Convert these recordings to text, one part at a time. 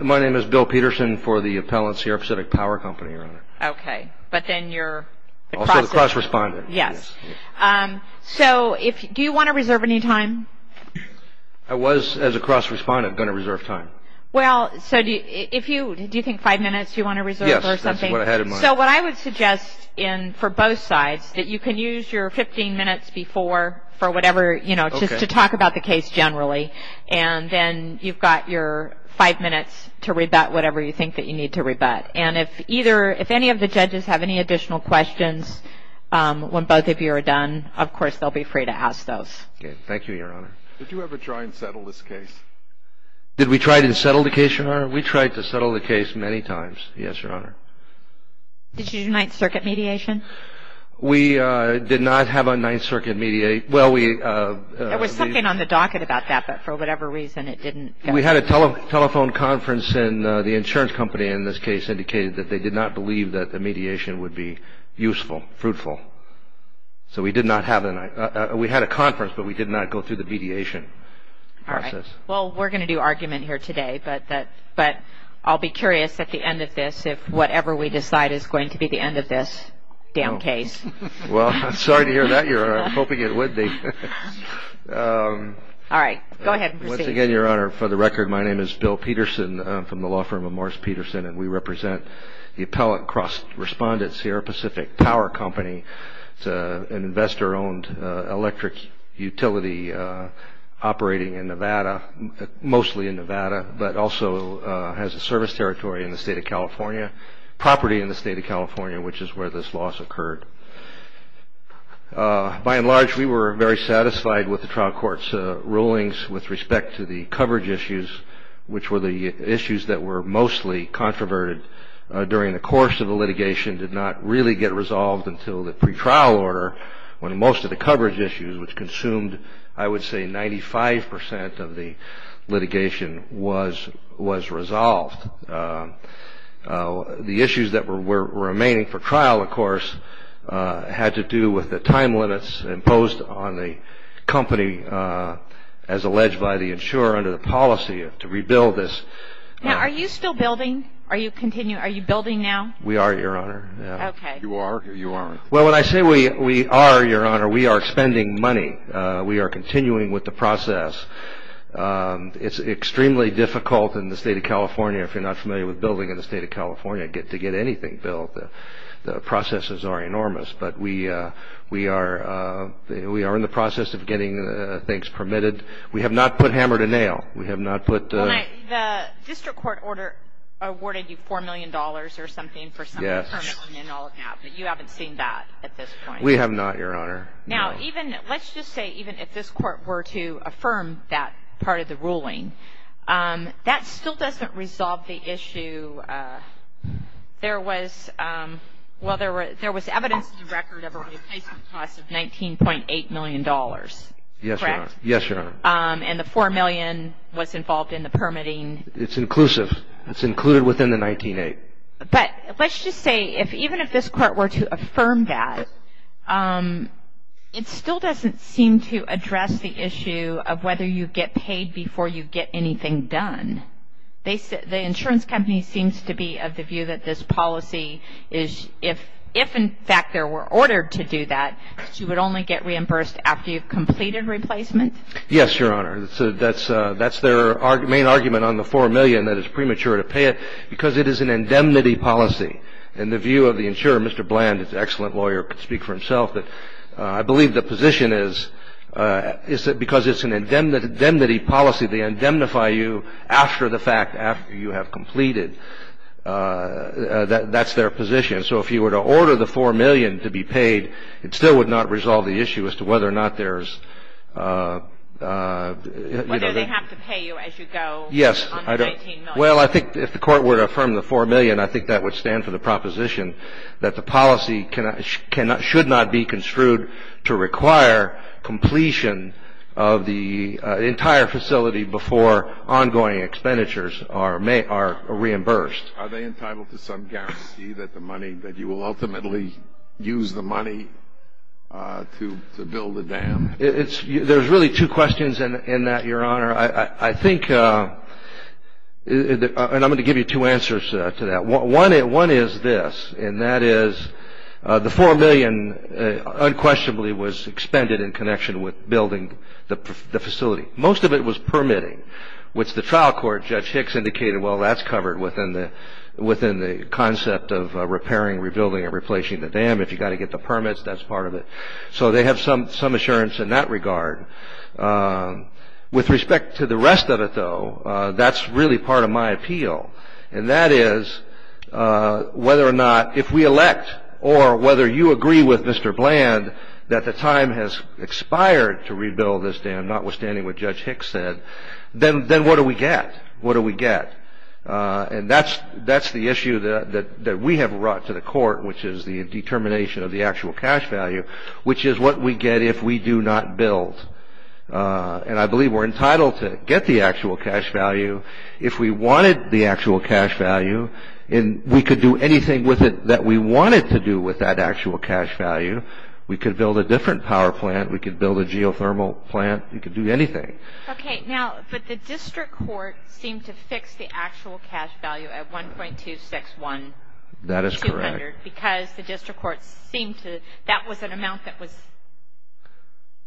My name is Bill Peterson for the appellants here at Pacific Power Company, Your Honor. Okay, but then you're the cross-respondent. Also the cross-respondent. Yes. So do you want to reserve any time? I was, as a cross-respondent, going to reserve time. Well, so do you think five minutes you want to reserve for something? Yes, that's what I had in mind. So what I would suggest for both sides, that you can use your 15 minutes before for whatever, you know, just to talk about the case generally. And then you've got your five minutes to rebut whatever you think that you need to rebut. And if either, if any of the judges have any additional questions when both of you are done, of course, they'll be free to ask those. Okay, thank you, Your Honor. Did you ever try and settle this case? Did we try to settle the case, Your Honor? We tried to settle the case many times, yes, Your Honor. Did you do Ninth Circuit mediation? We did not have a Ninth Circuit mediate. There was something on the docket about that, but for whatever reason, it didn't go through. We had a telephone conference, and the insurance company, in this case, indicated that they did not believe that the mediation would be useful, fruitful. So we did not have, we had a conference, but we did not go through the mediation process. All right, well, we're going to do argument here today, but I'll be curious at the end of this if whatever we decide is going to be the end of this damn case. Well, I'm sorry to hear that, Your Honor. I'm hoping it would be. All right, go ahead and proceed. Once again, Your Honor, for the record, my name is Bill Peterson. I'm from the law firm of Morris Peterson, and we represent the Appellant Cross Respondents here, a Pacific Power Company. It's an investor-owned electric utility operating in Nevada, mostly in Nevada, but also has a service territory in the state of California, property in the state of California, which is where this loss occurred. By and large, we were very satisfied with the trial court's rulings with respect to the coverage issues, which were the issues that were mostly controverted during the course of the litigation, did not really get resolved until the pretrial order, when most of the coverage issues, which consumed I would say 95 percent of the litigation, was resolved. The issues that were remaining for trial, of course, had to do with the time limits imposed on the company, as alleged by the insurer under the policy to rebuild this. Now, are you still building? Are you continuing? Are you building now? We are, Your Honor. Okay. You are or you aren't? Well, when I say we are, Your Honor, we are spending money. We are continuing with the process. It's extremely difficult in the state of California, if you're not familiar with building in the state of California, to get anything built. The processes are enormous, but we are in the process of getting things permitted. We have not put hammer to nail. We have not put the… Well, Mike, the district court order awarded you $4 million or something for some of the permits. Yes. But you haven't seen that at this point. We have not, Your Honor. No. Let's just say even if this court were to affirm that part of the ruling, that still doesn't resolve the issue. There was evidence in the record of a replacement cost of $19.8 million. Yes, Your Honor. Correct? Yes, Your Honor. And the $4 million was involved in the permitting. It's included within the $19.8 million. But let's just say if even if this court were to affirm that, it still doesn't seem to address the issue of whether you get paid before you get anything done. The insurance company seems to be of the view that this policy is if in fact there were ordered to do that, you would only get reimbursed after you've completed replacement. Yes, Your Honor. That's their main argument on the $4 million, that it's premature to pay it, because it is an indemnity policy. In the view of the insurer, Mr. Bland, an excellent lawyer, could speak for himself, but I believe the position is because it's an indemnity policy, they indemnify you after the fact, after you have completed. That's their position. And so if you were to order the $4 million to be paid, it still would not resolve the issue as to whether or not there's... Whether they have to pay you as you go on the $19 million. Yes. Well, I think if the court were to affirm the $4 million, I think that would stand for the proposition that the policy should not be construed to require completion of the entire facility before ongoing expenditures are reimbursed. Are they entitled to some guarantee that the money, that you will ultimately use the money to build the dam? There's really two questions in that, Your Honor. I think, and I'm going to give you two answers to that. One is this, and that is the $4 million unquestionably was expended in connection with building the facility. Most of it was permitting, which the trial court, Judge Hicks, indicated, well, that's covered within the concept of repairing, rebuilding, and replacing the dam. If you've got to get the permits, that's part of it. So they have some assurance in that regard. With respect to the rest of it, though, that's really part of my appeal, and that is whether or not if we elect or whether you agree with Mr. Bland that the time has expired to rebuild this dam, notwithstanding what Judge Hicks said, then what do we get? What do we get? And that's the issue that we have brought to the court, which is the determination of the actual cash value, which is what we get if we do not build. And I believe we're entitled to get the actual cash value if we wanted the actual cash value, and we could do anything with it that we wanted to do with that actual cash value. We could build a different power plant. We could build a geothermal plant. We could do anything. Okay. Now, but the district court seemed to fix the actual cash value at 1.261,200. That is correct. Because the district court seemed to, that was an amount that was,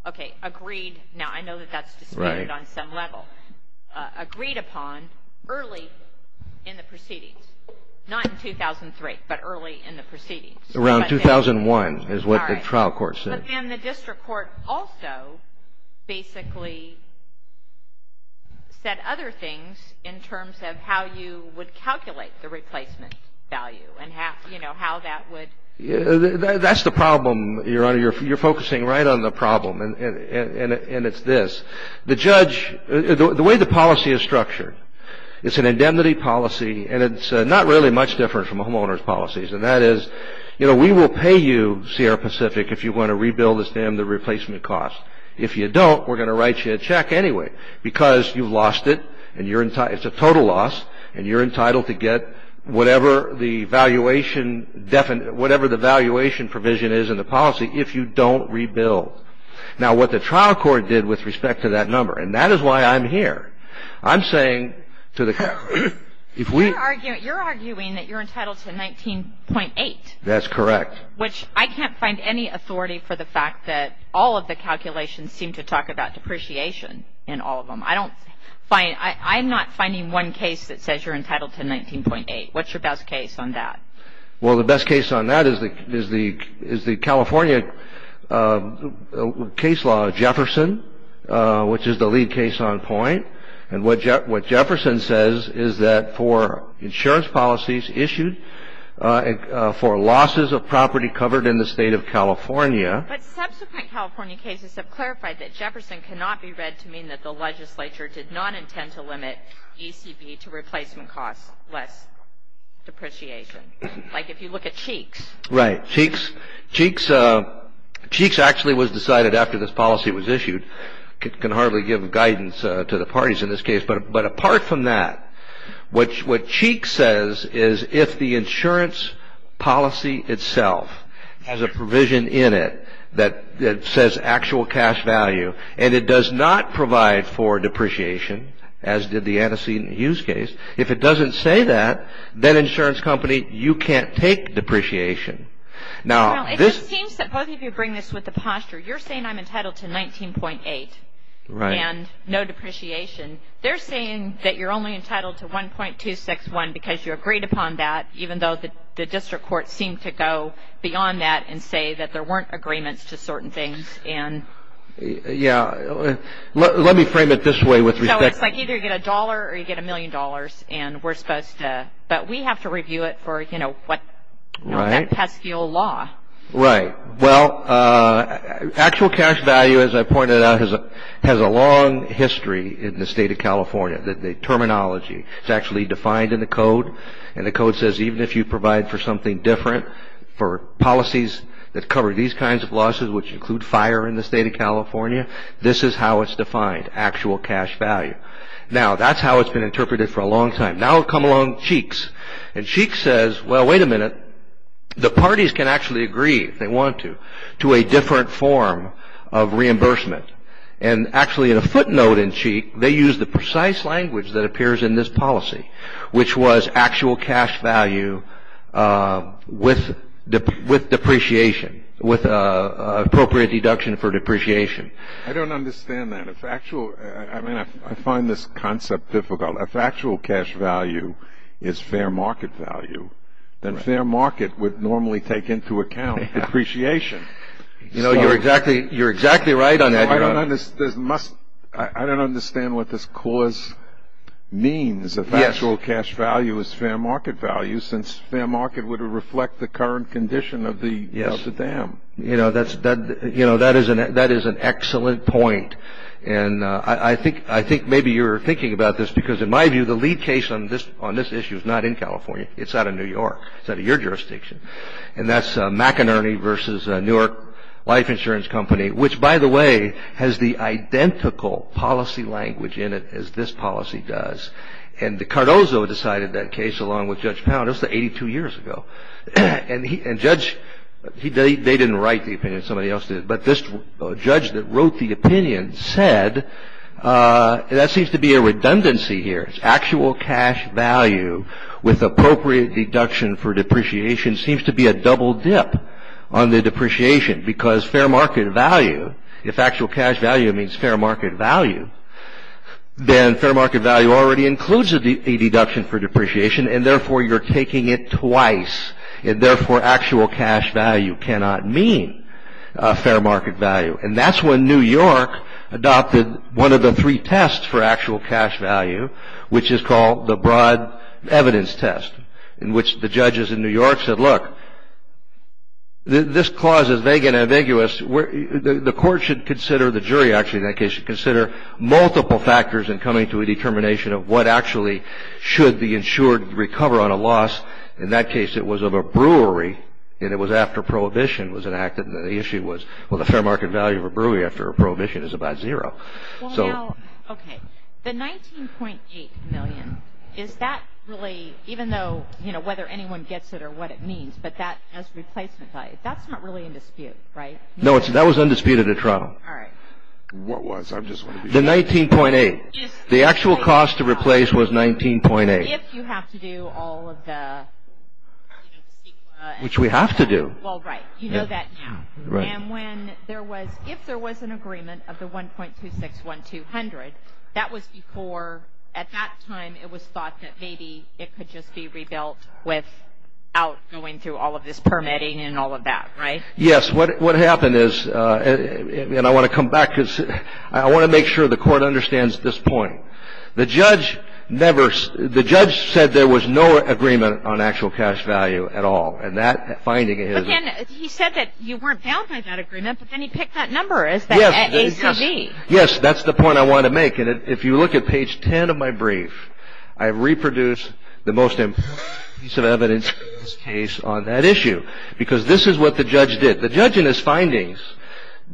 okay, agreed. Now, I know that that's disputed on some level. Agreed upon early in the proceedings, not in 2003, but early in the proceedings. Around 2001 is what the trial court said. And the district court also basically said other things in terms of how you would calculate the replacement value and, you know, how that would. That's the problem, Your Honor. You're focusing right on the problem, and it's this. The judge, the way the policy is structured, it's an indemnity policy, and it's not really much different from a homeowner's policies, and that is, you know, we will pay you, Sierra Pacific, if you want to rebuild this dam, the replacement cost. If you don't, we're going to write you a check anyway because you've lost it, and it's a total loss, and you're entitled to get whatever the valuation provision is in the policy if you don't rebuild. Now, what the trial court did with respect to that number, and that is why I'm here. I'm saying to the court, if we. You're arguing that you're entitled to 19.8. That's correct. Which I can't find any authority for the fact that all of the calculations seem to talk about depreciation in all of them. I don't find. I'm not finding one case that says you're entitled to 19.8. What's your best case on that? Well, the best case on that is the California case law, Jefferson, which is the lead case on point, and what Jefferson says is that for insurance policies issued for losses of property covered in the state of California. But subsequent California cases have clarified that Jefferson cannot be read to mean that the legislature did not intend to limit ECB to replacement costs less depreciation. Like if you look at Cheeks. Right. Cheeks actually was decided after this policy was issued. I can hardly give guidance to the parties in this case, but apart from that, what Cheeks says is if the insurance policy itself has a provision in it that says actual cash value, and it does not provide for depreciation, as did the Anacin Hughes case, if it doesn't say that, then insurance company, you can't take depreciation. Now, this. Well, it just seems that both of you bring this with a posture. You're saying I'm entitled to 19.8. Right. And no depreciation. They're saying that you're only entitled to 1.261 because you agreed upon that, even though the district court seemed to go beyond that and say that there weren't agreements to certain things. And. Yeah. Let me frame it this way with respect. So it's like either you get a dollar or you get a million dollars, and we're supposed to. But we have to review it for, you know, what. Right. That pesky old law. Right. Well, actual cash value, as I pointed out, has a long history in the state of California. The terminology is actually defined in the code. And the code says even if you provide for something different, for policies that cover these kinds of losses, which include fire in the state of California, this is how it's defined, actual cash value. Now, that's how it's been interpreted for a long time. Now, come along Cheeks. And Cheeks says, well, wait a minute. The parties can actually agree, if they want to, to a different form of reimbursement. And actually, in a footnote in Cheeks, they use the precise language that appears in this policy, which was actual cash value with depreciation, with appropriate deduction for depreciation. I don't understand that. If actual, I mean, I find this concept difficult. If actual cash value is fair market value, then fair market would normally take into account depreciation. You know, you're exactly right on that. I don't understand what this clause means, if actual cash value is fair market value, since fair market would reflect the current condition of the dam. You know, that is an excellent point. And I think maybe you're thinking about this because, in my view, the lead case on this issue is not in California. It's out of New York. It's out of your jurisdiction. And that's McInerney versus Newark Life Insurance Company, which, by the way, has the identical policy language in it as this policy does. And Cardozo decided that case along with Judge Pound. That was 82 years ago. And Judge, they didn't write the opinion. Somebody else did. But this judge that wrote the opinion said, that seems to be a redundancy here. It's actual cash value with appropriate deduction for depreciation seems to be a double dip on the depreciation. Because fair market value, if actual cash value means fair market value, then fair market value already includes a deduction for depreciation. And therefore, you're taking it twice. And therefore, actual cash value cannot mean fair market value. And that's when New York adopted one of the three tests for actual cash value, which is called the broad evidence test, in which the judges in New York said, look, this clause is vague and ambiguous. The court should consider, the jury, actually, in that case, should consider multiple factors in coming to a determination of what actually should the insured recover on a loss. In that case, it was of a brewery. And it was after prohibition was enacted. And the issue was, well, the fair market value of a brewery after a prohibition is about zero. Well, now, okay. The $19.8 million, is that really, even though, you know, whether anyone gets it or what it means, but that as replacement value, that's not really in dispute, right? No, that was undisputed in Toronto. All right. What was? I just want to be sure. The $19.8. The actual cost to replace was $19.8. If you have to do all of the, you know, the sequel. Which we have to do. Well, right. You know that now. Right. And when there was, if there was an agreement of the 1.261200, that was before, at that time, it was thought that maybe it could just be rebuilt without going through all of this permitting and all of that, right? Yes. What happened is, and I want to come back, because I want to make sure the court understands this point. The judge never, the judge said there was no agreement on actual cash value at all. And that finding is. Again, he said that you weren't bound by that agreement, but then he picked that number as that ACV. Yes, that's the point I want to make. And if you look at page 10 of my brief, I reproduce the most important piece of evidence in this case on that issue, because this is what the judge did. The judge in his findings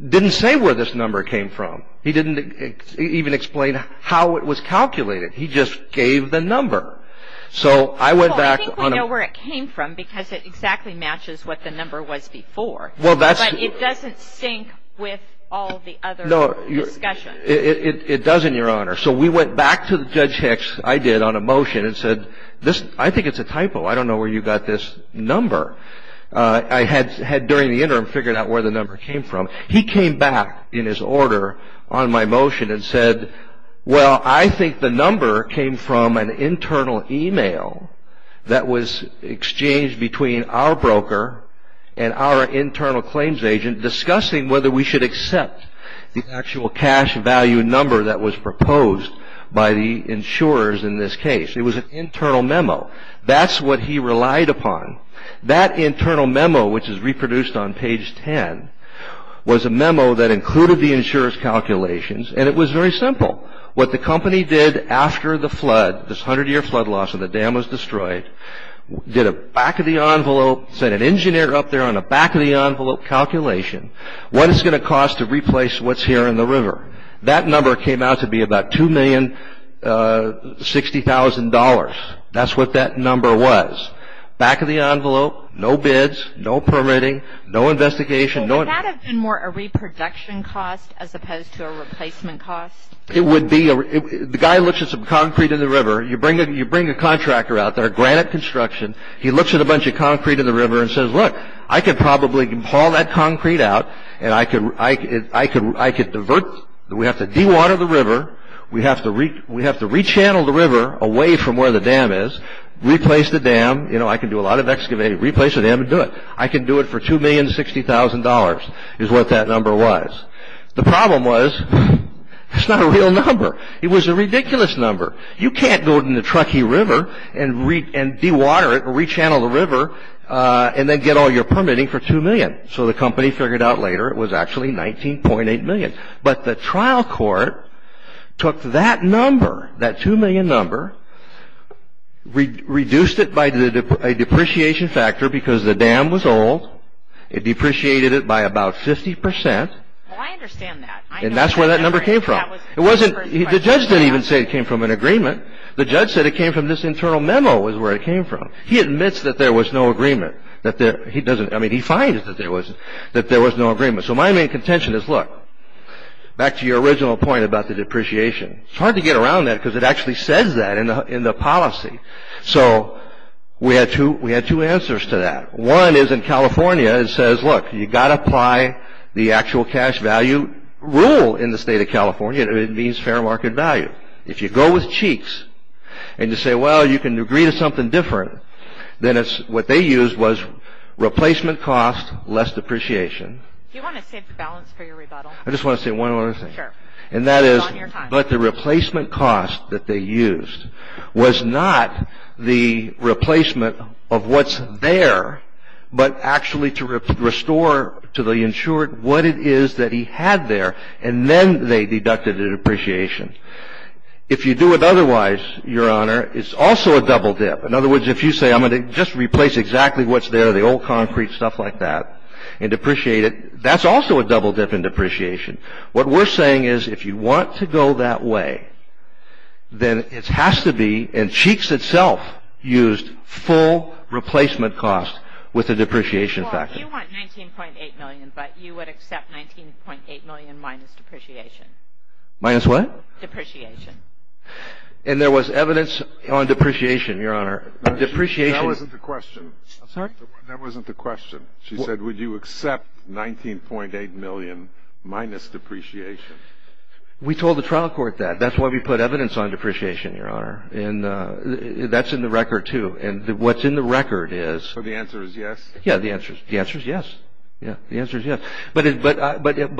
didn't say where this number came from. He didn't even explain how it was calculated. He just gave the number. So I went back on. Well, I think we know where it came from, because it exactly matches what the number was before. Well, that's. But it doesn't sync with all of the other discussions. No, it doesn't, Your Honor. So we went back to Judge Hicks, I did, on a motion and said, I think it's a typo. I don't know where you got this number. I had, during the interim, figured out where the number came from. He came back in his order on my motion and said, well, I think the number came from an internal email that was exchanged between our broker and our internal claims agent discussing whether we should accept the actual cash value number that was proposed by the insurers in this case. It was an internal memo. That's what he relied upon. That internal memo, which is reproduced on page 10, was a memo that included the insurers' calculations, and it was very simple. What the company did after the flood, this 100-year flood loss and the dam was destroyed, did a back-of-the-envelope, sent an engineer up there on a back-of-the-envelope calculation, what it's going to cost to replace what's here in the river. That number came out to be about $2,060,000. That's what that number was. Back-of-the-envelope, no bids, no permitting, no investigation. Would that have been more a reproduction cost as opposed to a replacement cost? It would be. The guy looks at some concrete in the river. You bring a contractor out there, granite construction. He looks at a bunch of concrete in the river and says, look, I could probably haul that concrete out, and I could divert, we have to dewater the river, we have to rechannel the river away from where the dam is, replace the dam, I can do a lot of excavating, replace the dam and do it. I can do it for $2,060,000 is what that number was. The problem was it's not a real number. It was a ridiculous number. You can't go in the Truckee River and dewater it or rechannel the river and then get all your permitting for $2,000,000. But the trial court took that number, that $2,000,000 number, reduced it by a depreciation factor because the dam was old, it depreciated it by about 50%, and that's where that number came from. The judge didn't even say it came from an agreement. The judge said it came from this internal memo was where it came from. He admits that there was no agreement. I mean, he finds that there was no agreement. So my main contention is, look, back to your original point about the depreciation, it's hard to get around that because it actually says that in the policy. So we had two answers to that. One is in California it says, look, you've got to apply the actual cash value rule in the state of California. It means fair market value. If you go with cheeks and you say, well, you can agree to something different, then what they used was replacement cost, less depreciation. Do you want to save the balance for your rebuttal? I just want to say one other thing. Sure. And that is, but the replacement cost that they used was not the replacement of what's there, but actually to restore to the insured what it is that he had there, and then they deducted a depreciation. If you do it otherwise, Your Honor, it's also a double dip. In other words, if you say I'm going to just replace exactly what's there, the old concrete, stuff like that, and depreciate it, that's also a double dip in depreciation. What we're saying is if you want to go that way, then it has to be, and cheeks itself used full replacement cost with a depreciation factor. Well, you want $19.8 million, but you would accept $19.8 million minus depreciation. Minus what? Depreciation. And there was evidence on depreciation, Your Honor. That wasn't the question. I'm sorry? That wasn't the question. She said would you accept $19.8 million minus depreciation. We told the trial court that. That's why we put evidence on depreciation, Your Honor. And that's in the record, too. And what's in the record is. So the answer is yes? Yeah, the answer is yes. Yeah, the answer is yes. But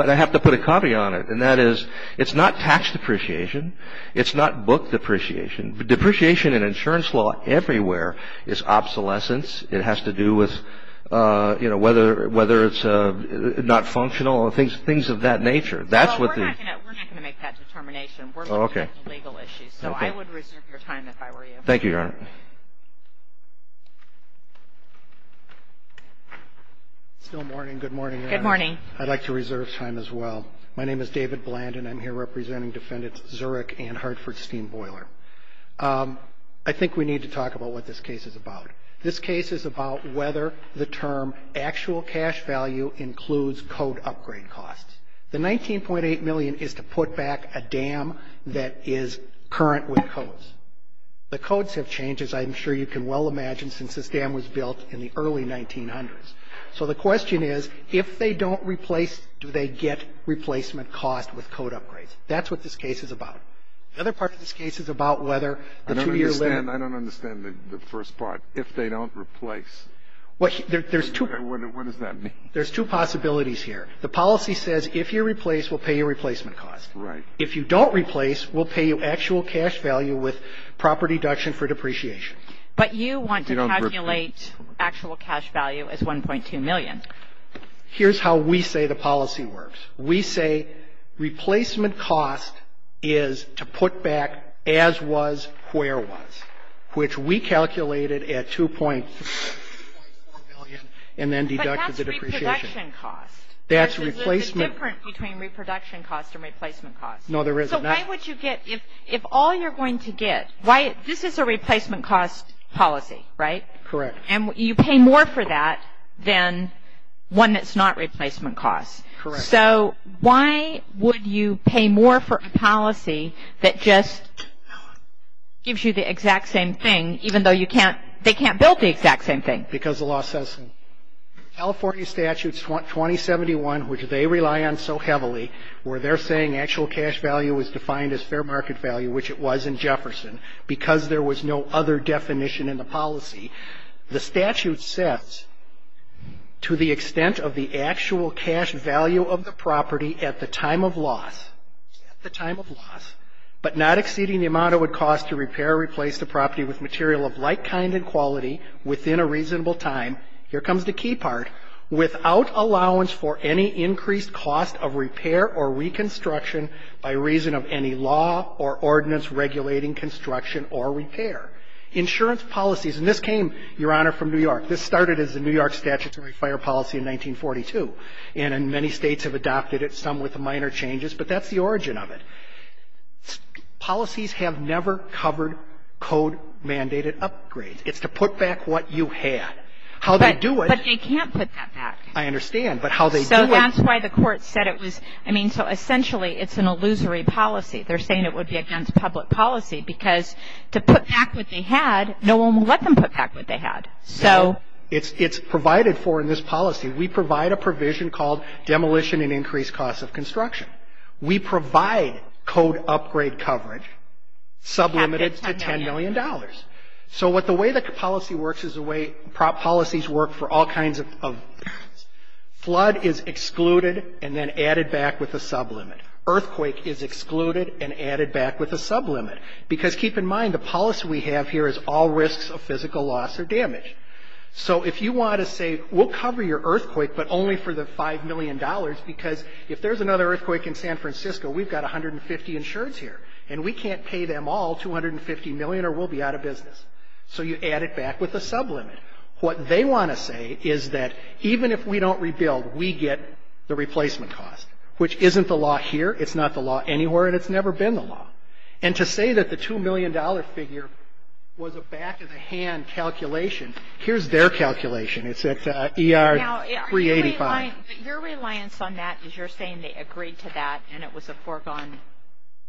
I have to put a caveat on it, and that is it's not tax depreciation. It's not book depreciation. Depreciation in insurance law everywhere is obsolescence. It has to do with, you know, whether it's not functional or things of that nature. Well, we're not going to make that determination. We're looking at the legal issues. So I would reserve your time if I were you. Thank you, Your Honor. Still morning. Good morning, Your Honor. Good morning. I'd like to reserve time as well. My name is David Bland, and I'm here representing Defendants Zurich and Hartford-Steen Boiler. I think we need to talk about what this case is about. This case is about whether the term actual cash value includes code upgrade costs. The $19.8 million is to put back a dam that is current with codes. The codes have changed, as I'm sure you can well imagine, since this dam was built in the early 1900s. So the question is, if they don't replace, do they get replacement costs with code upgrades? That's what this case is about. The other part of this case is about whether the two-year limit. And I don't understand the first part. If they don't replace, what does that mean? There's two possibilities here. The policy says if you replace, we'll pay you replacement costs. Right. If you don't replace, we'll pay you actual cash value with proper deduction for depreciation. But you want to calculate actual cash value as $1.2 million. Here's how we say the policy works. We say replacement cost is to put back as was, where was, which we calculated at $2.4 million and then deducted the depreciation. But that's reproduction cost. That's replacement. There's a difference between reproduction cost and replacement cost. No, there isn't. So why would you get – if all you're going to get – this is a replacement cost policy, right? Correct. And you pay more for that than one that's not replacement cost. Correct. So why would you pay more for a policy that just gives you the exact same thing, even though you can't – they can't build the exact same thing? Because the law says so. California Statutes 2071, which they rely on so heavily, where they're saying actual cash value is defined as fair market value, which it was in Jefferson, because there was no other definition in the policy. The statute says to the extent of the actual cash value of the property at the time of loss, at the time of loss, but not exceeding the amount it would cost to repair or replace the property with material of like kind and quality within a reasonable time. Here comes the key part. Without allowance for any increased cost of repair or reconstruction by reason of any law or ordinance regulating construction or repair. Insurance policies. And this came, Your Honor, from New York. This started as a New York statutory fire policy in 1942. And many states have adopted it, some with minor changes. But that's the origin of it. Policies have never covered code-mandated upgrades. It's to put back what you had. How they do it – But they can't put that back. I understand. But how they do it – So that's why the court said it was – I mean, so essentially it's an illusory policy. They're saying it would be against public policy because to put back what they had, no one would let them put back what they had. So – No. It's provided for in this policy. We provide a provision called demolition and increased cost of construction. We provide code upgrade coverage sublimited to $10 million. So what the way the policy works is the way policies work for all kinds of – flood is excluded and then added back with a sublimit. Earthquake is excluded and added back with a sublimit. Because keep in mind the policy we have here is all risks of physical loss or damage. So if you want to say we'll cover your earthquake but only for the $5 million because if there's another earthquake in San Francisco, we've got 150 insureds here. And we can't pay them all $250 million or we'll be out of business. So you add it back with a sublimit. What they want to say is that even if we don't rebuild, we get the replacement cost, which isn't the law here, it's not the law anywhere, and it's never been the law. And to say that the $2 million figure was a back-of-the-hand calculation, here's their calculation. It's at ER 385. Now, your reliance on that is you're saying they agreed to that and it was a foregone – No.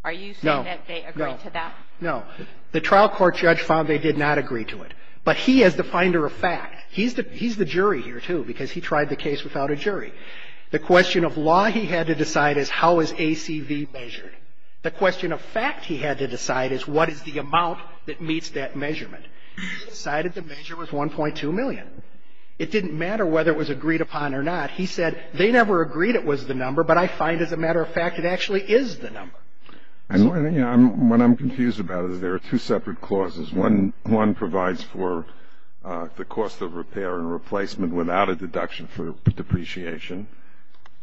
Are you saying that they agreed to that? No. The trial court judge found they did not agree to it. But he is the finder of fact. He's the jury here, too, because he tried the case without a jury. The question of law he had to decide is how is ACV measured. The question of fact he had to decide is what is the amount that meets that measurement. He decided the measure was $1.2 million. It didn't matter whether it was agreed upon or not. He said they never agreed it was the number, but I find, as a matter of fact, it actually is the number. And what I'm confused about is there are two separate clauses. One provides for the cost of repair and replacement without a deduction for depreciation,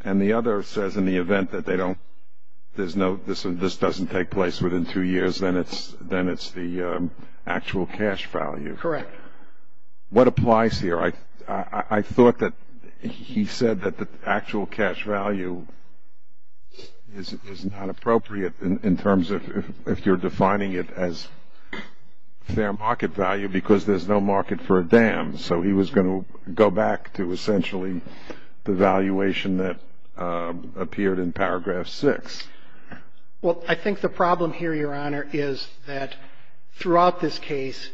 and the other says in the event that they don't – there's no – this doesn't take place within two years, then it's the actual cash value. Correct. What applies here? I thought that he said that the actual cash value is not appropriate in terms of if you're defining it as fair market value because there's no market for a dam. So he was going to go back to essentially the valuation that appeared in paragraph 6. Well, I think the problem here, Your Honor, is that throughout this case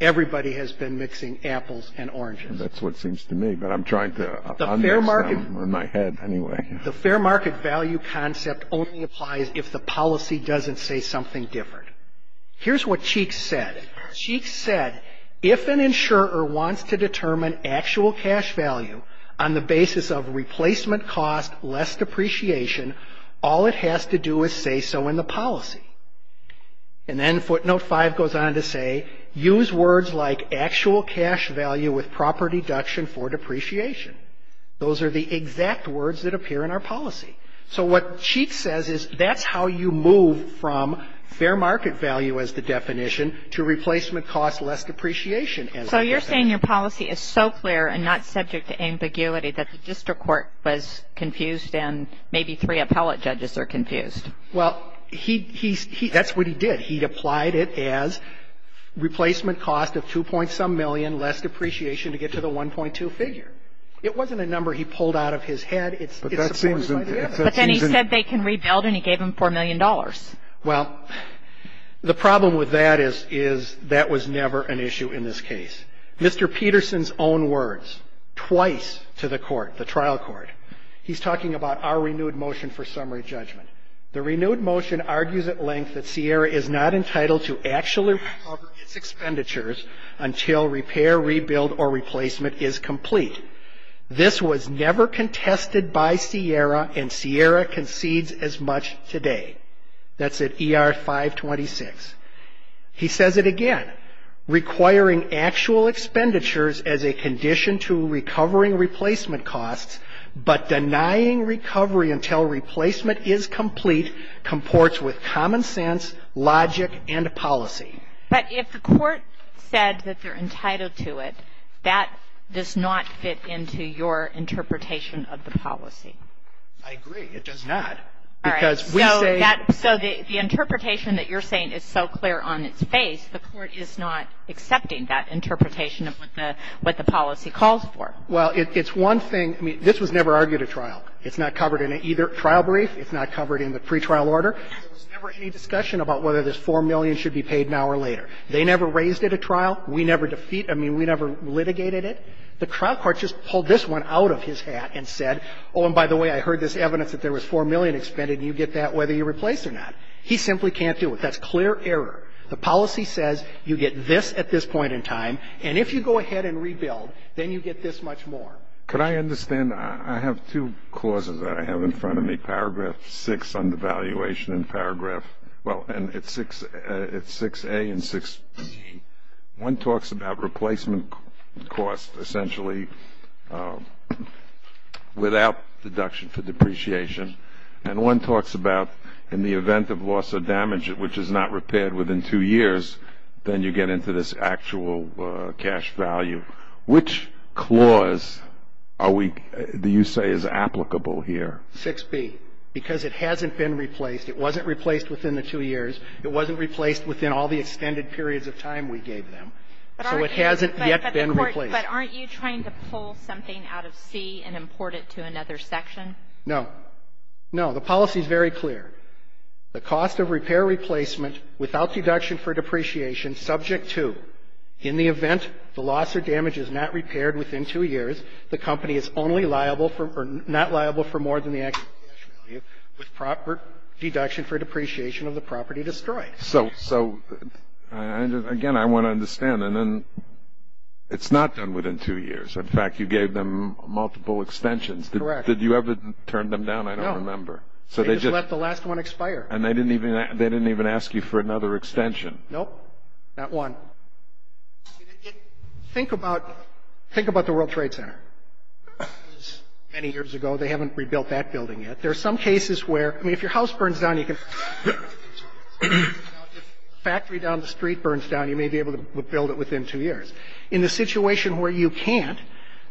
everybody has been mixing apples and oranges. That's what seems to me, but I'm trying to understand in my head anyway. The fair market value concept only applies if the policy doesn't say something different. Here's what Cheeks said. Cheeks said if an insurer wants to determine actual cash value on the basis of replacement cost, less depreciation, all it has to do is say so in the policy. And then footnote 5 goes on to say use words like actual cash value with proper deduction for depreciation. Those are the exact words that appear in our policy. So what Cheeks says is that's how you move from fair market value as the definition to replacement cost, less depreciation. So you're saying your policy is so clear and not subject to ambiguity that the district court was confused and maybe three appellate judges are confused. Well, that's what he did. He applied it as replacement cost of 2 point some million, less depreciation to get to the 1.2 figure. It wasn't a number he pulled out of his head. But then he said they can rebuild and he gave them $4 million. Well, the problem with that is that was never an issue in this case. Mr. Peterson's own words twice to the court, the trial court, he's talking about our renewed motion for summary judgment. The renewed motion argues at length that Sierra is not entitled to actually recover its expenditures until repair, rebuild, or replacement is complete. This was never contested by Sierra and Sierra concedes as much today. That's at ER 526. He says it again, requiring actual expenditures as a condition to recovering replacement costs but denying recovery until replacement is complete comports with common sense, logic, and policy. But if the court said that they're entitled to it, that does not fit into your interpretation of the policy. I agree. It does not. All right. So the interpretation that you're saying is so clear on its face, the court is not accepting that interpretation of what the policy calls for. Well, it's one thing. I mean, this was never argued at trial. It's not covered in either trial brief. It's not covered in the pretrial order. There was never any discussion about whether this $4 million should be paid now or later. They never raised it at trial. We never defeated it. I mean, we never litigated it. The trial court just pulled this one out of his hat and said, oh, and by the way, I heard this evidence that there was $4 million expended, and you get that whether you replace it or not. He simply can't do it. That's clear error. The policy says you get this at this point in time, and if you go ahead and rebuild, then you get this much more. Could I understand? I have two clauses that I have in front of me. Paragraph 6 on the valuation and paragraph – well, and it's 6A and 6B. One talks about replacement costs essentially without deduction for depreciation, and one talks about in the event of loss or damage, which is not repaired within two years, then you get into this actual cash value. Which clause are we – do you say is applicable here? 6B, because it hasn't been replaced. It wasn't replaced within the two years. It wasn't replaced within all the extended periods of time we gave them. So it hasn't yet been replaced. But aren't you trying to pull something out of C and import it to another section? No. No. The policy is very clear. The cost of repair replacement without deduction for depreciation subject to, in the event the loss or damage is not repaired within two years, the company is only liable for – or not liable for more than the actual cash value with proper deduction for depreciation of the property destroyed. So, again, I want to understand. And then it's not done within two years. In fact, you gave them multiple extensions. Correct. Did you ever turn them down? I don't remember. They just let the last one expire. And they didn't even ask you for another extension. Nope. Not one. Think about the World Trade Center. Many years ago, they haven't rebuilt that building yet. There are some cases where – I mean, if your house burns down, you can – if a factory down the street burns down, you may be able to rebuild it within two years. In the situation where you can't,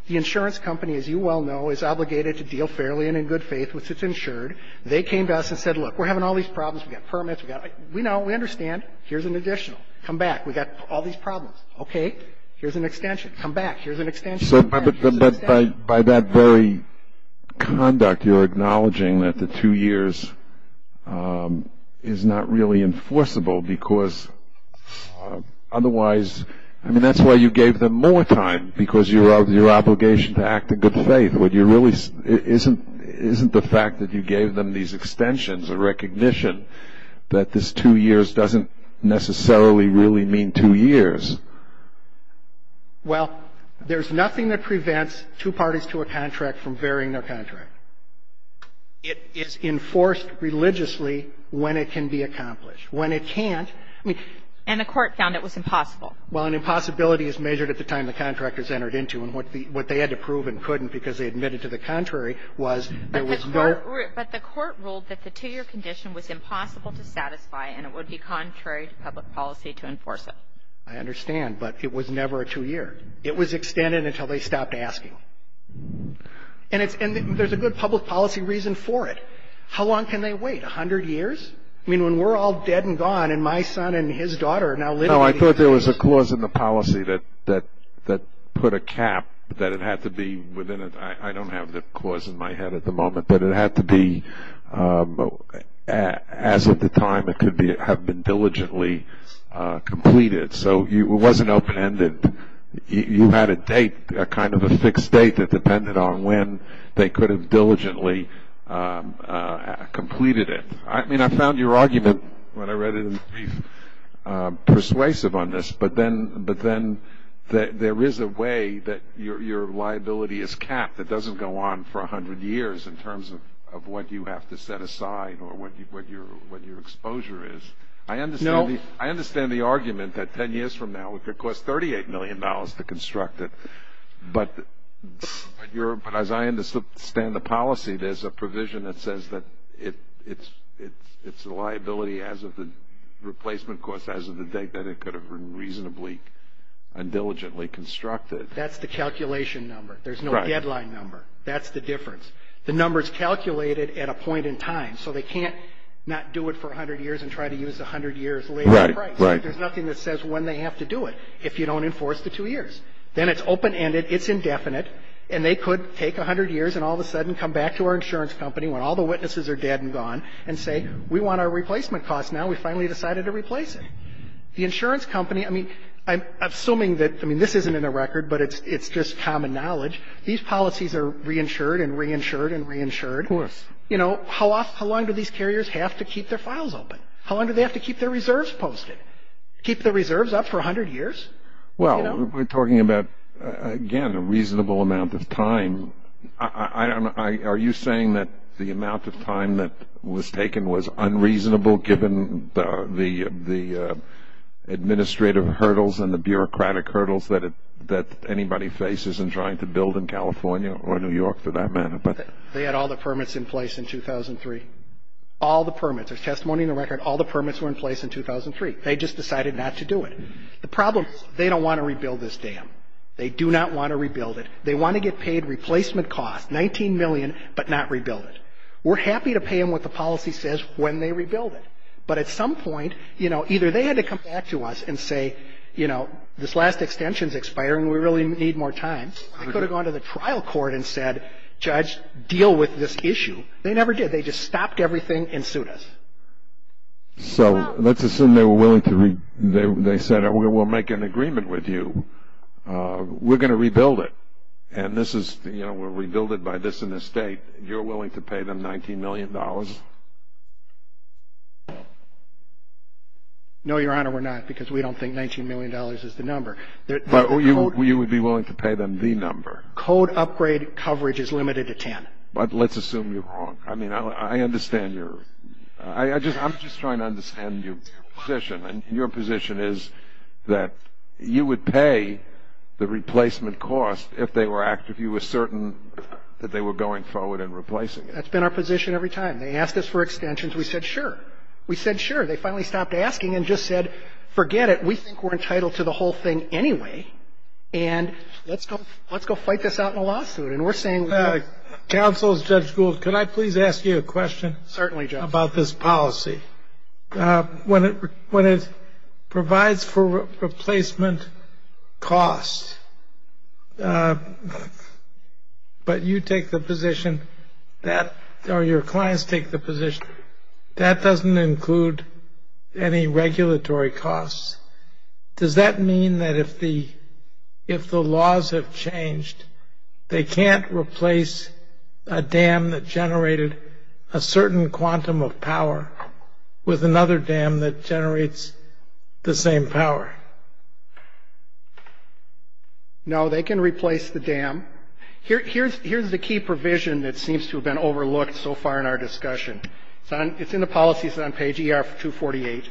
the insurance company, as you well know, is obligated to deal fairly and in good faith with its insured. They came to us and said, look, we're having all these problems. We've got permits. We know. We understand. Here's an additional. Come back. We've got all these problems. Okay. Here's an extension. Come back. Here's an extension. But by that very conduct, you're acknowledging that the two years is not really enforceable because otherwise – I mean, that's why you gave them more time, because of your obligation to act in good faith. What you really – isn't the fact that you gave them these extensions a recognition that this two years doesn't necessarily really mean two years? Well, there's nothing that prevents two parties to a contract from varying their contract. It is enforced religiously when it can be accomplished. When it can't – And the Court found it was impossible. Well, an impossibility is measured at the time the contract is entered into. And what they had to prove and couldn't because they admitted to the contrary was there was no – But the Court ruled that the two-year condition was impossible to satisfy and it would be contrary to public policy to enforce it. I understand. But it was never a two year. It was extended until they stopped asking. And there's a good public policy reason for it. How long can they wait? A hundred years? I mean, when we're all dead and gone and my son and his daughter are now living – No, I thought there was a clause in the policy that put a cap that it had to be within – I don't have the clause in my head at the moment, but it had to be as of the time it could have been diligently completed. So it wasn't open-ended. You had a date, kind of a fixed date, that depended on when they could have diligently completed it. I mean, I found your argument when I read it in the brief persuasive on this, but then there is a way that your liability is capped that doesn't go on for a hundred years in terms of what you have to set aside or what your exposure is. I understand the argument that 10 years from now it could cost $38 million to construct it, but as I understand the policy, there's a provision that says that it's a liability as of the replacement cost, as of the date that it could have been reasonably and diligently constructed. That's the calculation number. There's no deadline number. That's the difference. The number is calculated at a point in time, so they can't not do it for a hundred years and try to use a hundred years later price. Right, right. There's nothing that says when they have to do it if you don't enforce the two years. Then it's open-ended, it's indefinite, and they could take a hundred years and all of a sudden come back to our insurance company when all the witnesses are dead and gone and say, we want our replacement cost now, we finally decided to replace it. The insurance company, I mean, I'm assuming that, I mean, this isn't in the record, but it's just common knowledge. These policies are reinsured and reinsured and reinsured. Of course. You know, how long do these carriers have to keep their files open? How long do they have to keep their reserves posted? Keep the reserves up for a hundred years? Well, we're talking about, again, a reasonable amount of time. Are you saying that the amount of time that was taken was unreasonable given the administrative hurdles and the bureaucratic hurdles that anybody faces in trying to build in California or New York for that matter? They had all the permits in place in 2003. All the permits. There's testimony in the record, all the permits were in place in 2003. They just decided not to do it. The problem is they don't want to rebuild this dam. They do not want to rebuild it. They want to get paid replacement costs, $19 million, but not rebuild it. We're happy to pay them what the policy says when they rebuild it. But at some point, you know, either they had to come back to us and say, you know, this last extension is expiring, we really need more time. They could have gone to the trial court and said, judge, deal with this issue. They never did. They just stopped everything and sued us. So let's assume they said, we'll make an agreement with you. We're going to rebuild it. And this is, you know, we'll rebuild it by this in the state. You're willing to pay them $19 million? No, Your Honor, we're not because we don't think $19 million is the number. But you would be willing to pay them the number? Code upgrade coverage is limited to 10. But let's assume you're wrong. I mean, I understand your – I'm just trying to understand your position. And your position is that you would pay the replacement cost if they were – if you were certain that they were going forward and replacing it. That's been our position every time. They asked us for extensions. We said, sure. We said, sure. They finally stopped asking and just said, forget it. We think we're entitled to the whole thing anyway. And let's go fight this out in a lawsuit. Counsel, Judge Gould, could I please ask you a question? Certainly, Judge. About this policy. When it provides for replacement costs, but you take the position that – or your clients take the position that that doesn't include any regulatory costs, does that mean that if the laws have changed, they can't replace a dam that generated a certain quantum of power with another dam that generates the same power? No, they can replace the dam. Here's the key provision that seems to have been overlooked so far in our discussion. It's in the policies on page ER-248.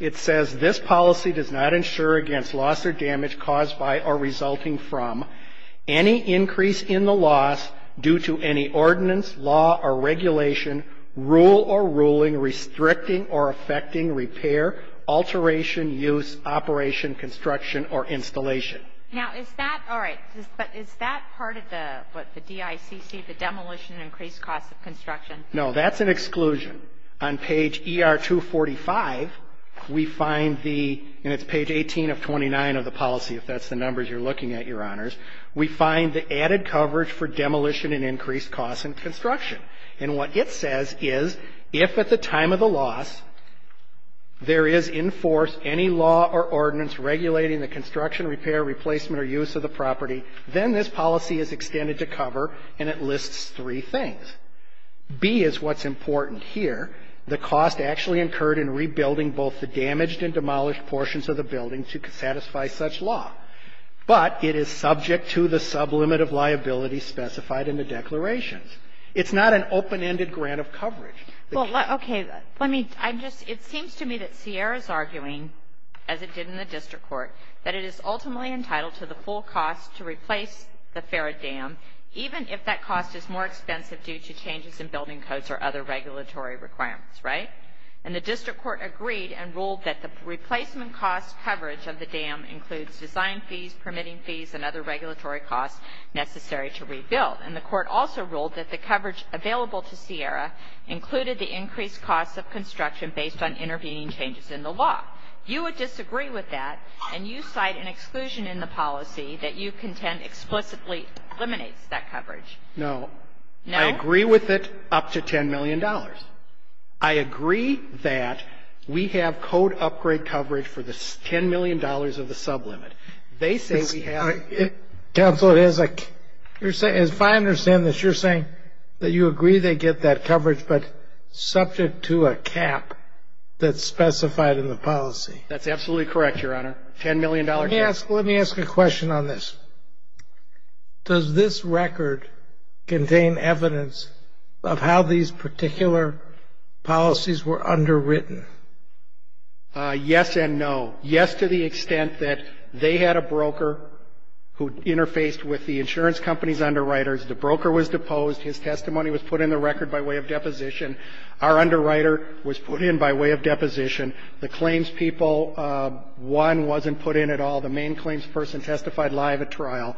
It says, this policy does not insure against loss or damage caused by or resulting from any increase in the loss due to any ordinance, law, or regulation, rule or ruling restricting or affecting repair, alteration, use, operation, construction, or installation. Now, is that part of the DICC, the demolition and increased cost of construction? No, that's an exclusion. On page ER-245, we find the – and it's page 18 of 29 of the policy, if that's the numbers you're looking at, Your Honors. We find the added coverage for demolition and increased cost in construction. And what it says is, if at the time of the loss, there is in force any law or ordinance regulating the construction, repair, replacement, or use of the property, then this policy is extended to cover, and it lists three things. B is what's important here. The cost actually incurred in rebuilding both the damaged and demolished portions of the building to satisfy such law. But it is subject to the sublimit of liability specified in the declarations. It's not an open-ended grant of coverage. Kagan. Well, okay. Let me – I'm just – it seems to me that Sierra is arguing, as it did in the district court, that it is ultimately entitled to the full cost to replace the Ferret Dam, even if that cost is more expensive due to changes in building codes or other regulatory requirements. Right? And the district court agreed and ruled that the replacement cost coverage of the dam includes design fees, permitting fees, and other regulatory costs necessary to rebuild. And the court also ruled that the coverage available to Sierra included the increased cost of construction based on intervening changes in the law. You would disagree with that, and you cite an exclusion in the policy that you contend explicitly eliminates that coverage. No. No? I agree with it up to $10 million. I agree that we have code upgrade coverage for the $10 million of the sublimit. They say we have – Counsel, it is a – if I understand this, you're saying that you agree they get that coverage, but subject to a cap that's specified in the policy. That's absolutely correct, Your Honor. $10 million. Let me ask – let me ask a question on this. Does this record contain evidence of how these particular policies were underwritten? Yes and no. Yes to the extent that they had a broker who interfaced with the insurance company's underwriters. The broker was deposed. His testimony was put in the record by way of deposition. Our underwriter was put in by way of deposition. The claims people, one, wasn't put in at all. The main claims person testified live at trial.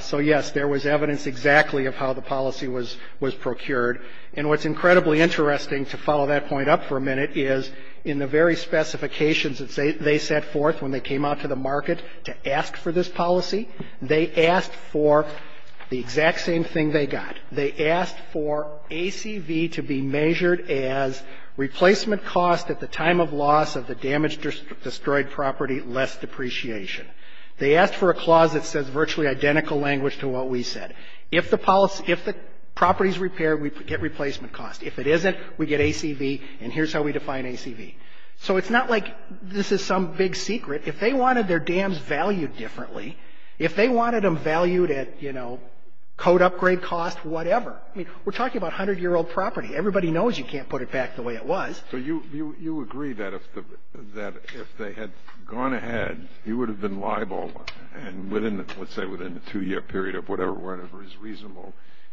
So, yes, there was evidence exactly of how the policy was procured. And what's incredibly interesting, to follow that point up for a minute, is in the very specifications that they set forth when they came out to the market to ask for this policy, they asked for the exact same thing they got. They asked for ACV to be measured as replacement cost at the time of loss of the damaged or destroyed property less depreciation. They asked for a clause that says virtually identical language to what we said. If the property is repaired, we get replacement cost. If it isn't, we get ACV, and here's how we define ACV. So it's not like this is some big secret. If they wanted their dams valued differently, if they wanted them valued at, you know, code upgrade cost, whatever. I mean, we're talking about 100-year-old property. Everybody knows you can't put it back the way it was. So you agree that if they had gone ahead, you would have been liable, and within the, let's say within the two-year period of whatever is reasonable,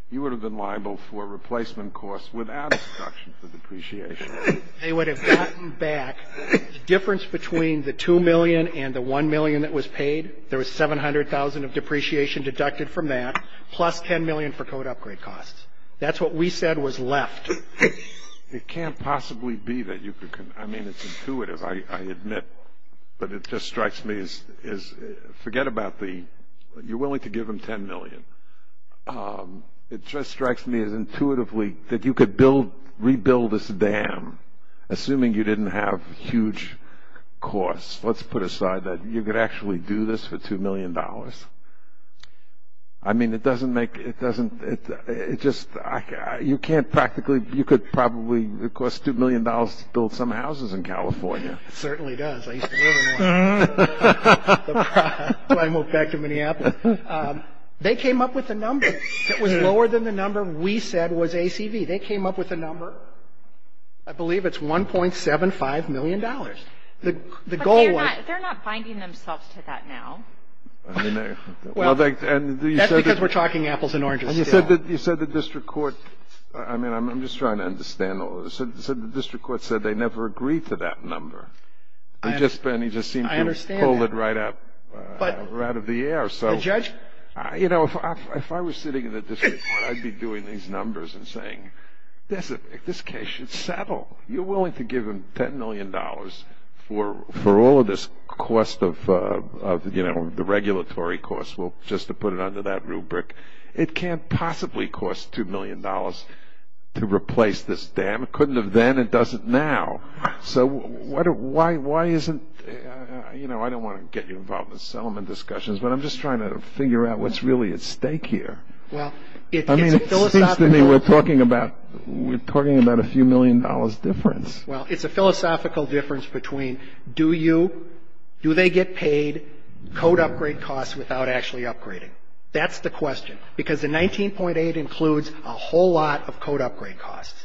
you would have been liable for replacement costs without a deduction for depreciation. They would have gotten back the difference between the 2 million and the 1 million that was paid. There was 700,000 of depreciation deducted from that, plus 10 million for code upgrade costs. That's what we said was left. It can't possibly be that you could, I mean, it's intuitive, I admit. But it just strikes me as, forget about the, you're willing to give them 10 million. It just strikes me as intuitively that you could rebuild this dam, assuming you didn't have huge costs. Let's put aside that you could actually do this for $2 million. I mean, it doesn't make, it doesn't, it just, you can't practically, you could probably, it costs $2 million to build some houses in California. It certainly does. I used to live in one. So I moved back to Minneapolis. They came up with a number that was lower than the number we said was ACV. They came up with a number, I believe it's $1.75 million. $1.75 million. The goal was. But they're not, they're not binding themselves to that now. Well, that's because we're talking apples and oranges still. You said the district court, I mean, I'm just trying to understand all this. You said the district court said they never agreed to that number. I understand that. They just seemed to pull it right out of the air. But the judge. You know, if I was sitting in the district court, I'd be doing these numbers and saying, this case should settle. You're willing to give them $10 million for all of this cost of, you know, the regulatory cost, just to put it under that rubric. It can't possibly cost $2 million to replace this dam. It couldn't have then. It doesn't now. So why isn't, you know, I don't want to get you involved in settlement discussions, but I'm just trying to figure out what's really at stake here. I mean, it seems to me we're talking about a few million dollars difference. Well, it's a philosophical difference between do you, do they get paid, code upgrade costs without actually upgrading. That's the question. Because the 19.8 includes a whole lot of code upgrade costs.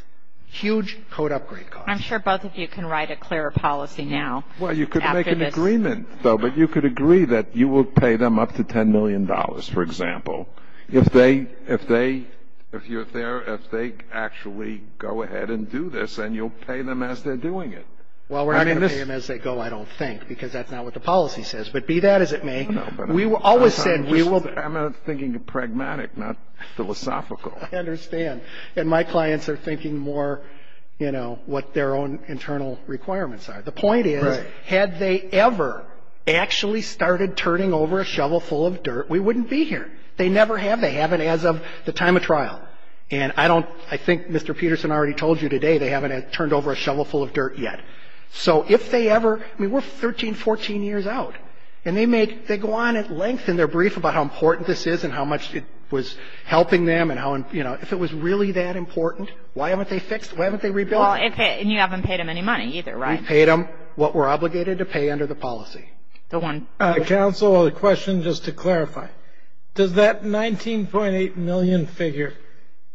Huge code upgrade costs. I'm sure both of you can write a clearer policy now. Well, you could make an agreement, though, but you could agree that you would pay them up to $10 million, for example, if they, if you're there, if they actually go ahead and do this and you'll pay them as they're doing it. Well, we're not going to pay them as they go, I don't think, because that's not what the policy says. But be that as it may, we always said we will. I'm thinking pragmatic, not philosophical. I understand. And my clients are thinking more, you know, what their own internal requirements are. The point is, had they ever actually started turning over a shovel full of dirt, we wouldn't be here. They never have. They haven't as of the time of trial. And I don't, I think Mr. Peterson already told you today, they haven't turned over a shovel full of dirt yet. So if they ever, I mean, we're 13, 14 years out. And they make, they go on at length in their brief about how important this is and how much it was helping them and how, you know, if it was really that important, why haven't they fixed, why haven't they rebuilt? Well, and you haven't paid them any money either, right? We paid them what we're obligated to pay under the policy. Counsel, a question just to clarify. Does that $19.8 million figure,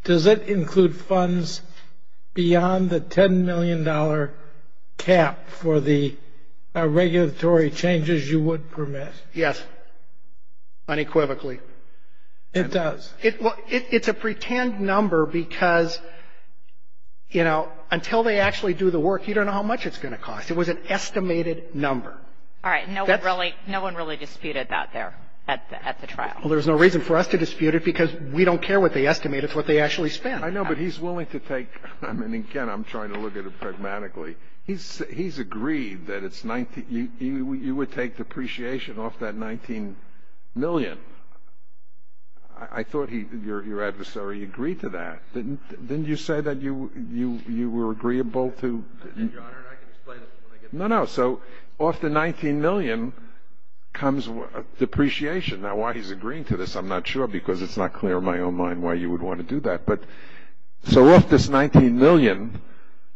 does it include funds beyond the $10 million cap for the regulatory changes you would permit? Yes, unequivocally. It does? Well, it's a pretend number because, you know, until they actually do the work, you don't know how much it's going to cost. It was an estimated number. All right. No one really disputed that there at the trial. Well, there's no reason for us to dispute it because we don't care what they estimate. It's what they actually spent. I know, but he's willing to take, I mean, again, I'm trying to look at it pragmatically. He's agreed that it's, you would take depreciation off that $19 million. I thought your adversary agreed to that. Didn't you say that you were agreeable to? No, no. So off the $19 million comes depreciation. Now, why he's agreeing to this, I'm not sure, because it's not clear in my own mind why you would want to do that. But so off this $19 million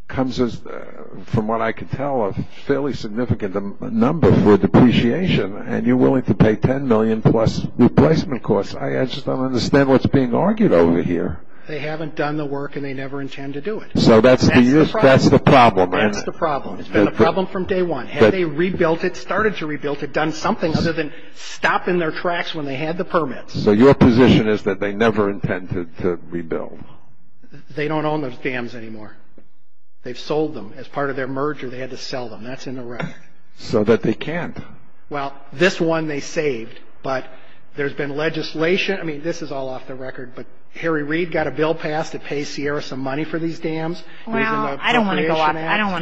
comes, from what I could tell, a fairly significant number for depreciation, and you're willing to pay $10 million plus replacement costs. I just don't understand what's being argued over here. They haven't done the work, and they never intend to do it. So that's the problem, isn't it? That's the problem. It's been a problem from day one. Had they rebuilt it, started to rebuild it, done something other than stop in their tracks when they had the permits. So your position is that they never intended to rebuild? They don't own those dams anymore. They've sold them as part of their merger. They had to sell them. That's in the record. So that they can't. Well, this one they saved, but there's been legislation. I mean, this is all off the record, but Harry Reid got a bill passed to pay Sierra some money for these dams. Well, I don't want to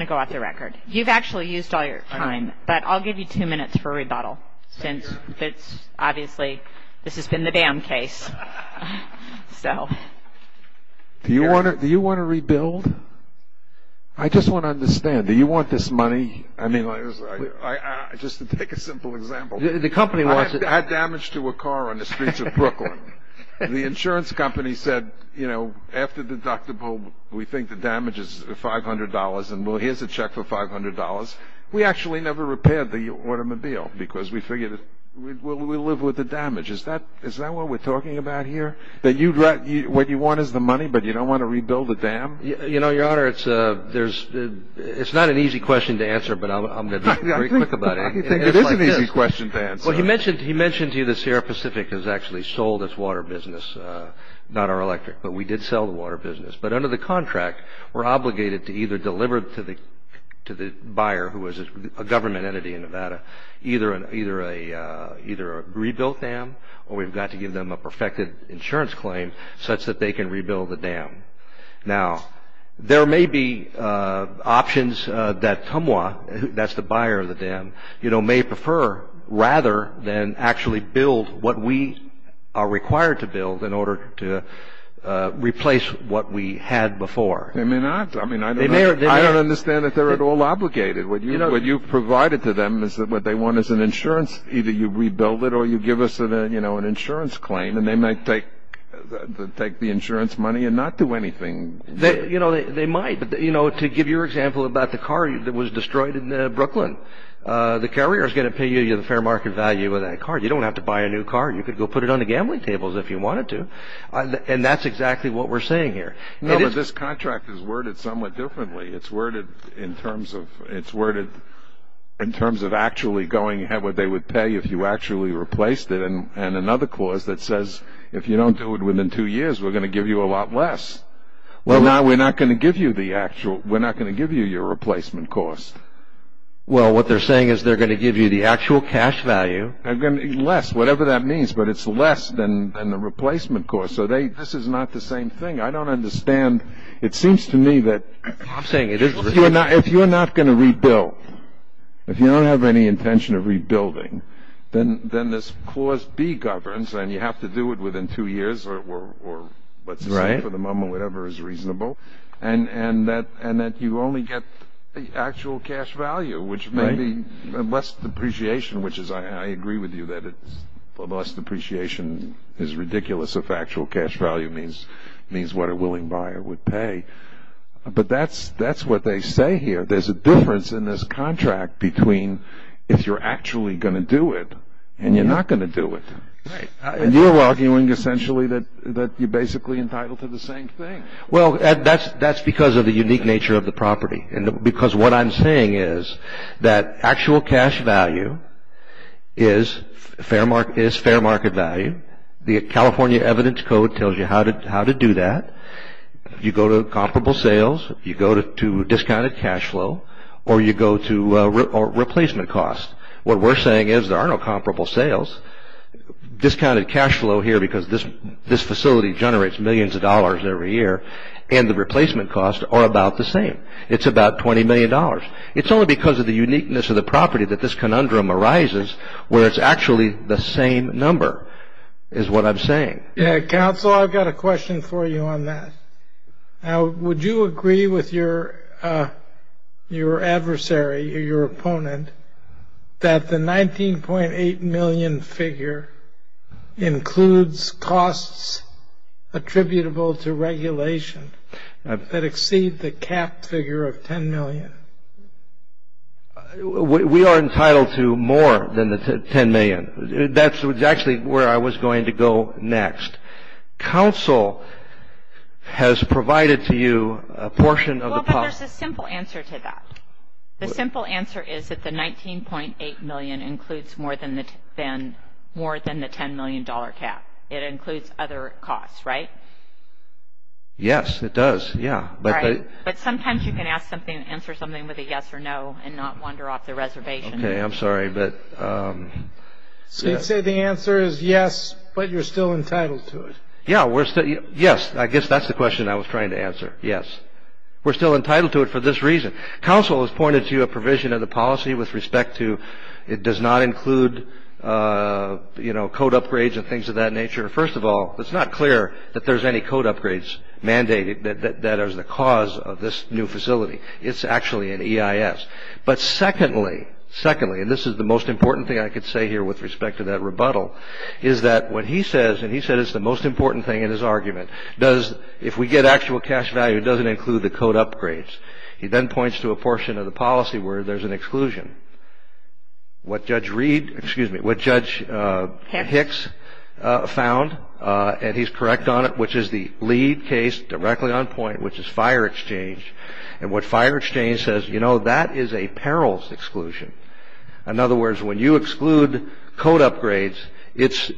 go off the record. You've actually used all your time, but I'll give you two minutes for a rebuttal. Since it's obviously this has been the dam case. Do you want to rebuild? I just want to understand. Do you want this money? I mean, just to take a simple example. The company wants it. I had damage to a car on the streets of Brooklyn. The insurance company said, you know, after deductible, we think the damage is $500, and here's a check for $500. We actually never repaired the automobile because we figured we'll live with the damage. Is that what we're talking about here? That what you want is the money, but you don't want to rebuild the dam? You know, Your Honor, it's not an easy question to answer, but I'm going to be very quick about it. It is an easy question to answer. Well, he mentioned to you the Sierra Pacific has actually sold its water business, not our electric, but we did sell the water business. But under the contract, we're obligated to either deliver to the buyer, who is a government entity in Nevada, either a rebuilt dam, or we've got to give them a perfected insurance claim such that they can rebuild the dam. Now, there may be options that TUMWA, that's the buyer of the dam, you know, may prefer rather than actually build what we are required to build in order to replace what we had before. They may not. I mean, I don't understand that they're at all obligated. What you've provided to them is what they want is an insurance. Either you rebuild it or you give us an insurance claim, and they might take the insurance money and not do anything. You know, they might. But, you know, to give you an example about the car that was destroyed in Brooklyn, the carrier is going to pay you the fair market value of that car. You don't have to buy a new car. You could go put it on the gambling tables if you wanted to. And that's exactly what we're saying here. No, but this contract is worded somewhat differently. It's worded in terms of actually going ahead with what they would pay if you actually replaced it and another clause that says if you don't do it within two years, we're going to give you a lot less. We're not going to give you your replacement cost. Well, what they're saying is they're going to give you the actual cash value. Less, whatever that means, but it's less than the replacement cost. So this is not the same thing. I don't understand. It seems to me that if you're not going to rebuild, if you don't have any intention of rebuilding, then this clause B governs and you have to do it within two years or let's say for the moment whatever is reasonable and that you only get the actual cash value, which may be less depreciation, which I agree with you that less depreciation is ridiculous if actual cash value means what a willing buyer would pay. But that's what they say here. There's a difference in this contract between if you're actually going to do it and you're not going to do it. And you're arguing essentially that you're basically entitled to the same thing. Well, that's because of the unique nature of the property because what I'm saying is that actual cash value is fair market value. The California Evidence Code tells you how to do that. You go to comparable sales, you go to discounted cash flow, or you go to replacement cost. What we're saying is there are no comparable sales. Discounted cash flow here because this facility generates millions of dollars every year and the replacement costs are about the same. It's about $20 million. It's only because of the uniqueness of the property that this conundrum arises where it's actually the same number is what I'm saying. Counsel, I've got a question for you on that. Would you agree with your adversary or your opponent that the $19.8 million figure includes costs attributable to regulation that exceed the capped figure of $10 million? We are entitled to more than the $10 million. That's actually where I was going to go next. Counsel has provided to you a portion of the policy. Well, but there's a simple answer to that. The simple answer is that the $19.8 million includes more than the $10 million cap. It includes other costs, right? Yes, it does, yeah. But sometimes you can ask something and answer something with a yes or no and not wander off the reservation. Okay, I'm sorry, but yes. He said the answer is yes, but you're still entitled to it. Yeah, yes, I guess that's the question I was trying to answer, yes. We're still entitled to it for this reason. Counsel has pointed to a provision of the policy with respect to it does not include, you know, code upgrades and things of that nature. First of all, it's not clear that there's any code upgrades mandated that are the cause of this new facility. It's actually an EIS. But secondly, and this is the most important thing I could say here with respect to that rebuttal, is that what he says, and he said it's the most important thing in his argument, if we get actual cash value, it doesn't include the code upgrades. He then points to a portion of the policy where there's an exclusion. What Judge Hicks found, and he's correct on it, which is the lead case directly on point, which is fire exchange, and what fire exchange says, you know, that is a perils exclusion. In other words, when you exclude code upgrades, it's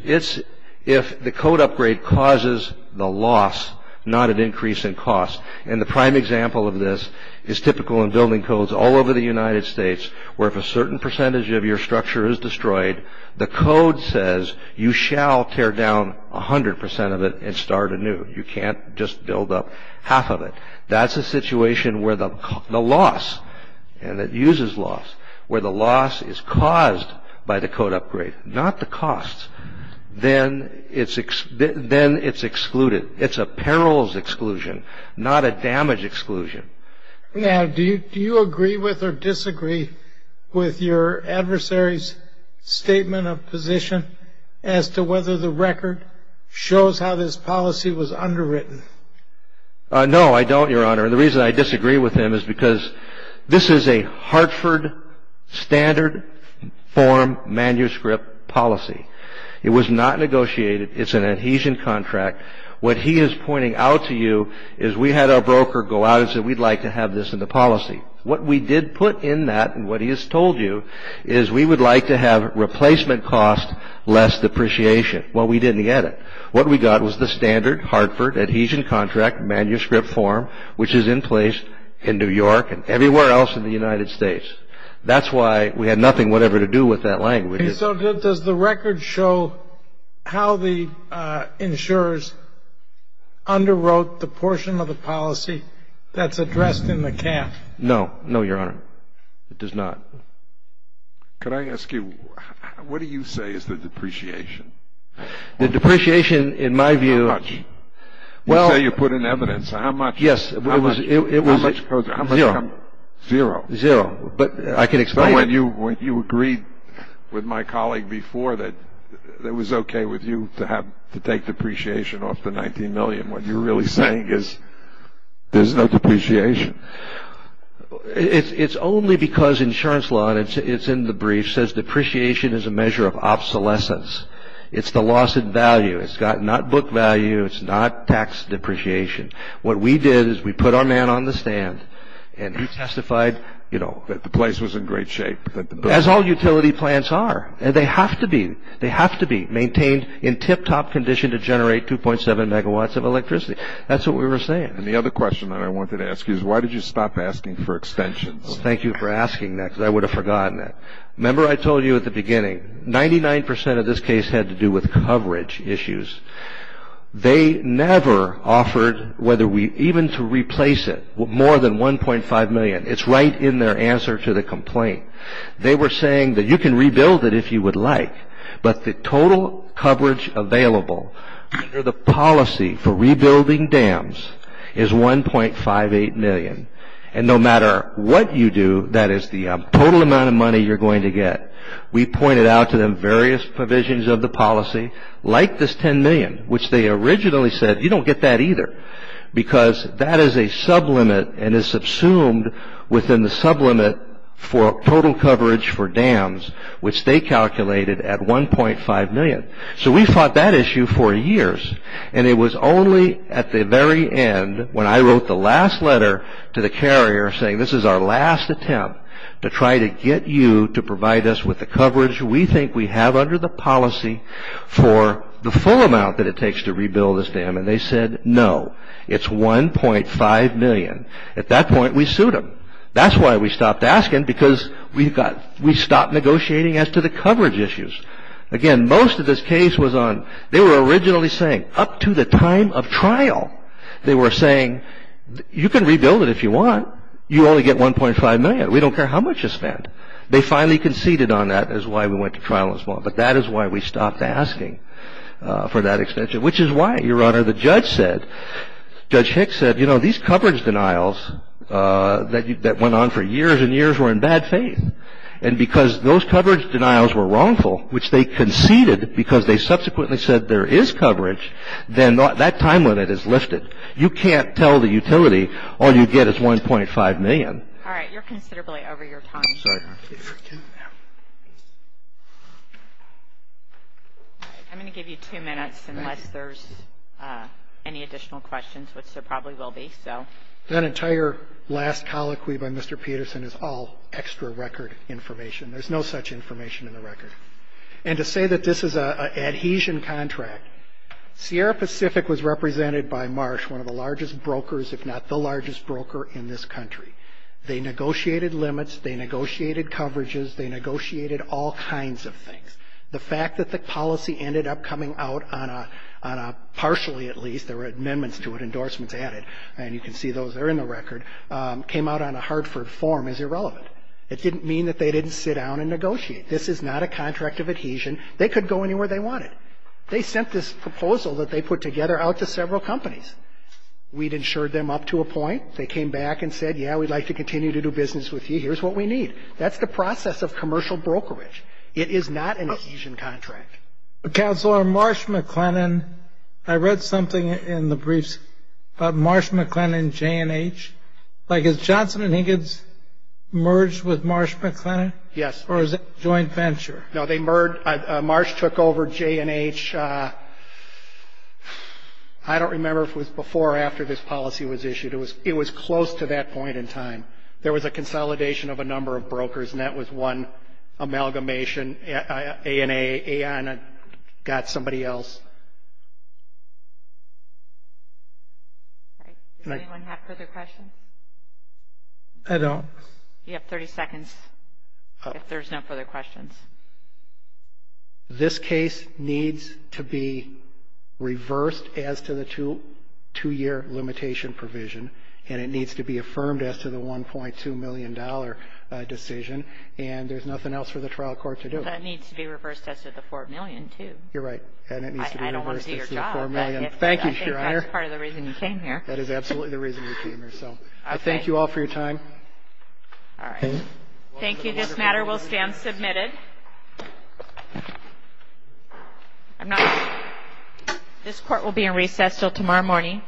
if the code upgrade causes the loss, not an increase in cost. And the prime example of this is typical in building codes all over the United States, where if a certain percentage of your structure is destroyed, the code says you shall tear down 100% of it and start anew. You can't just build up half of it. That's a situation where the loss, and it uses loss, where the loss is caused by the code upgrade, not the cost, then it's excluded. It's a perils exclusion, not a damage exclusion. Now, do you agree with or disagree with your adversary's statement of position as to whether the record shows how this policy was underwritten? No, I don't, Your Honor. And the reason I disagree with him is because this is a Hartford standard form manuscript policy. It was not negotiated. It's an adhesion contract. What he is pointing out to you is we had our broker go out and say we'd like to have this in the policy. What we did put in that and what he has told you is we would like to have replacement cost less depreciation. Well, we didn't get it. What we got was the standard Hartford adhesion contract manuscript form, which is in place in New York and everywhere else in the United States. That's why we had nothing whatever to do with that language. And so does the record show how the insurers underwrote the portion of the policy that's addressed in the camp? No. No, Your Honor. It does not. Could I ask you, what do you say is the depreciation? The depreciation, in my view. How much? You say you put in evidence. How much? Yes. How much? Zero. Zero. Zero. But I can explain it. When you agreed with my colleague before that it was okay with you to take depreciation off the 19 million, what you're really saying is there's no depreciation. It's only because insurance law, and it's in the brief, says depreciation is a measure of obsolescence. It's the loss in value. It's not book value. It's not tax depreciation. What we did is we put our man on the stand and he testified, you know. That the place was in great shape. As all utility plants are. And they have to be. They have to be maintained in tip-top condition to generate 2.7 megawatts of electricity. That's what we were saying. And the other question that I wanted to ask you is why did you stop asking for extensions? Thank you for asking that because I would have forgotten that. Remember I told you at the beginning, 99% of this case had to do with coverage issues. They never offered whether we even to replace it with more than 1.5 million. It's right in their answer to the complaint. They were saying that you can rebuild it if you would like. But the total coverage available under the policy for rebuilding dams is 1.58 million. And no matter what you do, that is the total amount of money you're going to get. We pointed out to them various provisions of the policy, like this 10 million, which they originally said you don't get that either. Because that is a sublimit and is subsumed within the sublimit for total coverage for dams, which they calculated at 1.5 million. So we fought that issue for years. And it was only at the very end when I wrote the last letter to the carrier saying, this is our last attempt to try to get you to provide us with the coverage we think we have under the policy And they said, no. It's 1.5 million. At that point, we sued them. That's why we stopped asking, because we stopped negotiating as to the coverage issues. Again, most of this case was on, they were originally saying, up to the time of trial. They were saying, you can rebuild it if you want. You only get 1.5 million. We don't care how much you spend. They finally conceded on that is why we went to trial as well. But that is why we stopped asking for that extension. Which is why, Your Honor, the judge said, Judge Hicks said, you know, these coverage denials that went on for years and years were in bad faith. And because those coverage denials were wrongful, which they conceded, because they subsequently said there is coverage, then that time limit is lifted. You can't tell the utility, all you get is 1.5 million. All right. You're considerably over your time. Sorry. All right. I'm going to give you two minutes unless there's any additional questions, which there probably will be. That entire last colloquy by Mr. Peterson is all extra record information. There's no such information in the record. And to say that this is an adhesion contract, Sierra Pacific was represented by Marsh, one of the largest brokers, if not the largest broker in this country. They negotiated limits. They negotiated coverages. They negotiated all kinds of things. The fact that the policy ended up coming out on a partially, at least, there were amendments to it, endorsements added, and you can see those are in the record, came out on a Hartford form is irrelevant. It didn't mean that they didn't sit down and negotiate. This is not a contract of adhesion. They could go anywhere they wanted. They sent this proposal that they put together out to several companies. We'd insured them up to a point. They came back and said, yeah, we'd like to continue to do business with you. Here's what we need. That's the process of commercial brokerage. It is not an adhesion contract. Counselor, Marsh-McLennan, I read something in the briefs about Marsh-McLennan, J&H. Like, is Johnson & Higgins merged with Marsh-McLennan? Yes. Or is it joint venture? No, they merged. Marsh took over J&H, I don't remember if it was before or after this policy was issued. It was close to that point in time. There was a consolidation of a number of brokers, and that was one amalgamation. A&A got somebody else. Does anyone have further questions? I don't. You have 30 seconds if there's no further questions. This case needs to be reversed as to the two-year limitation provision, and it needs to be affirmed as to the $1.2 million decision, and there's nothing else for the trial court to do. That needs to be reversed as to the $4 million, too. You're right. And it needs to be reversed as to the $4 million. Thank you, Your Honor. I think that's part of the reason you came here. That is absolutely the reason you came here. So I thank you all for your time. All right. Thank you. This matter will stand submitted. This court will be in recess until tomorrow morning.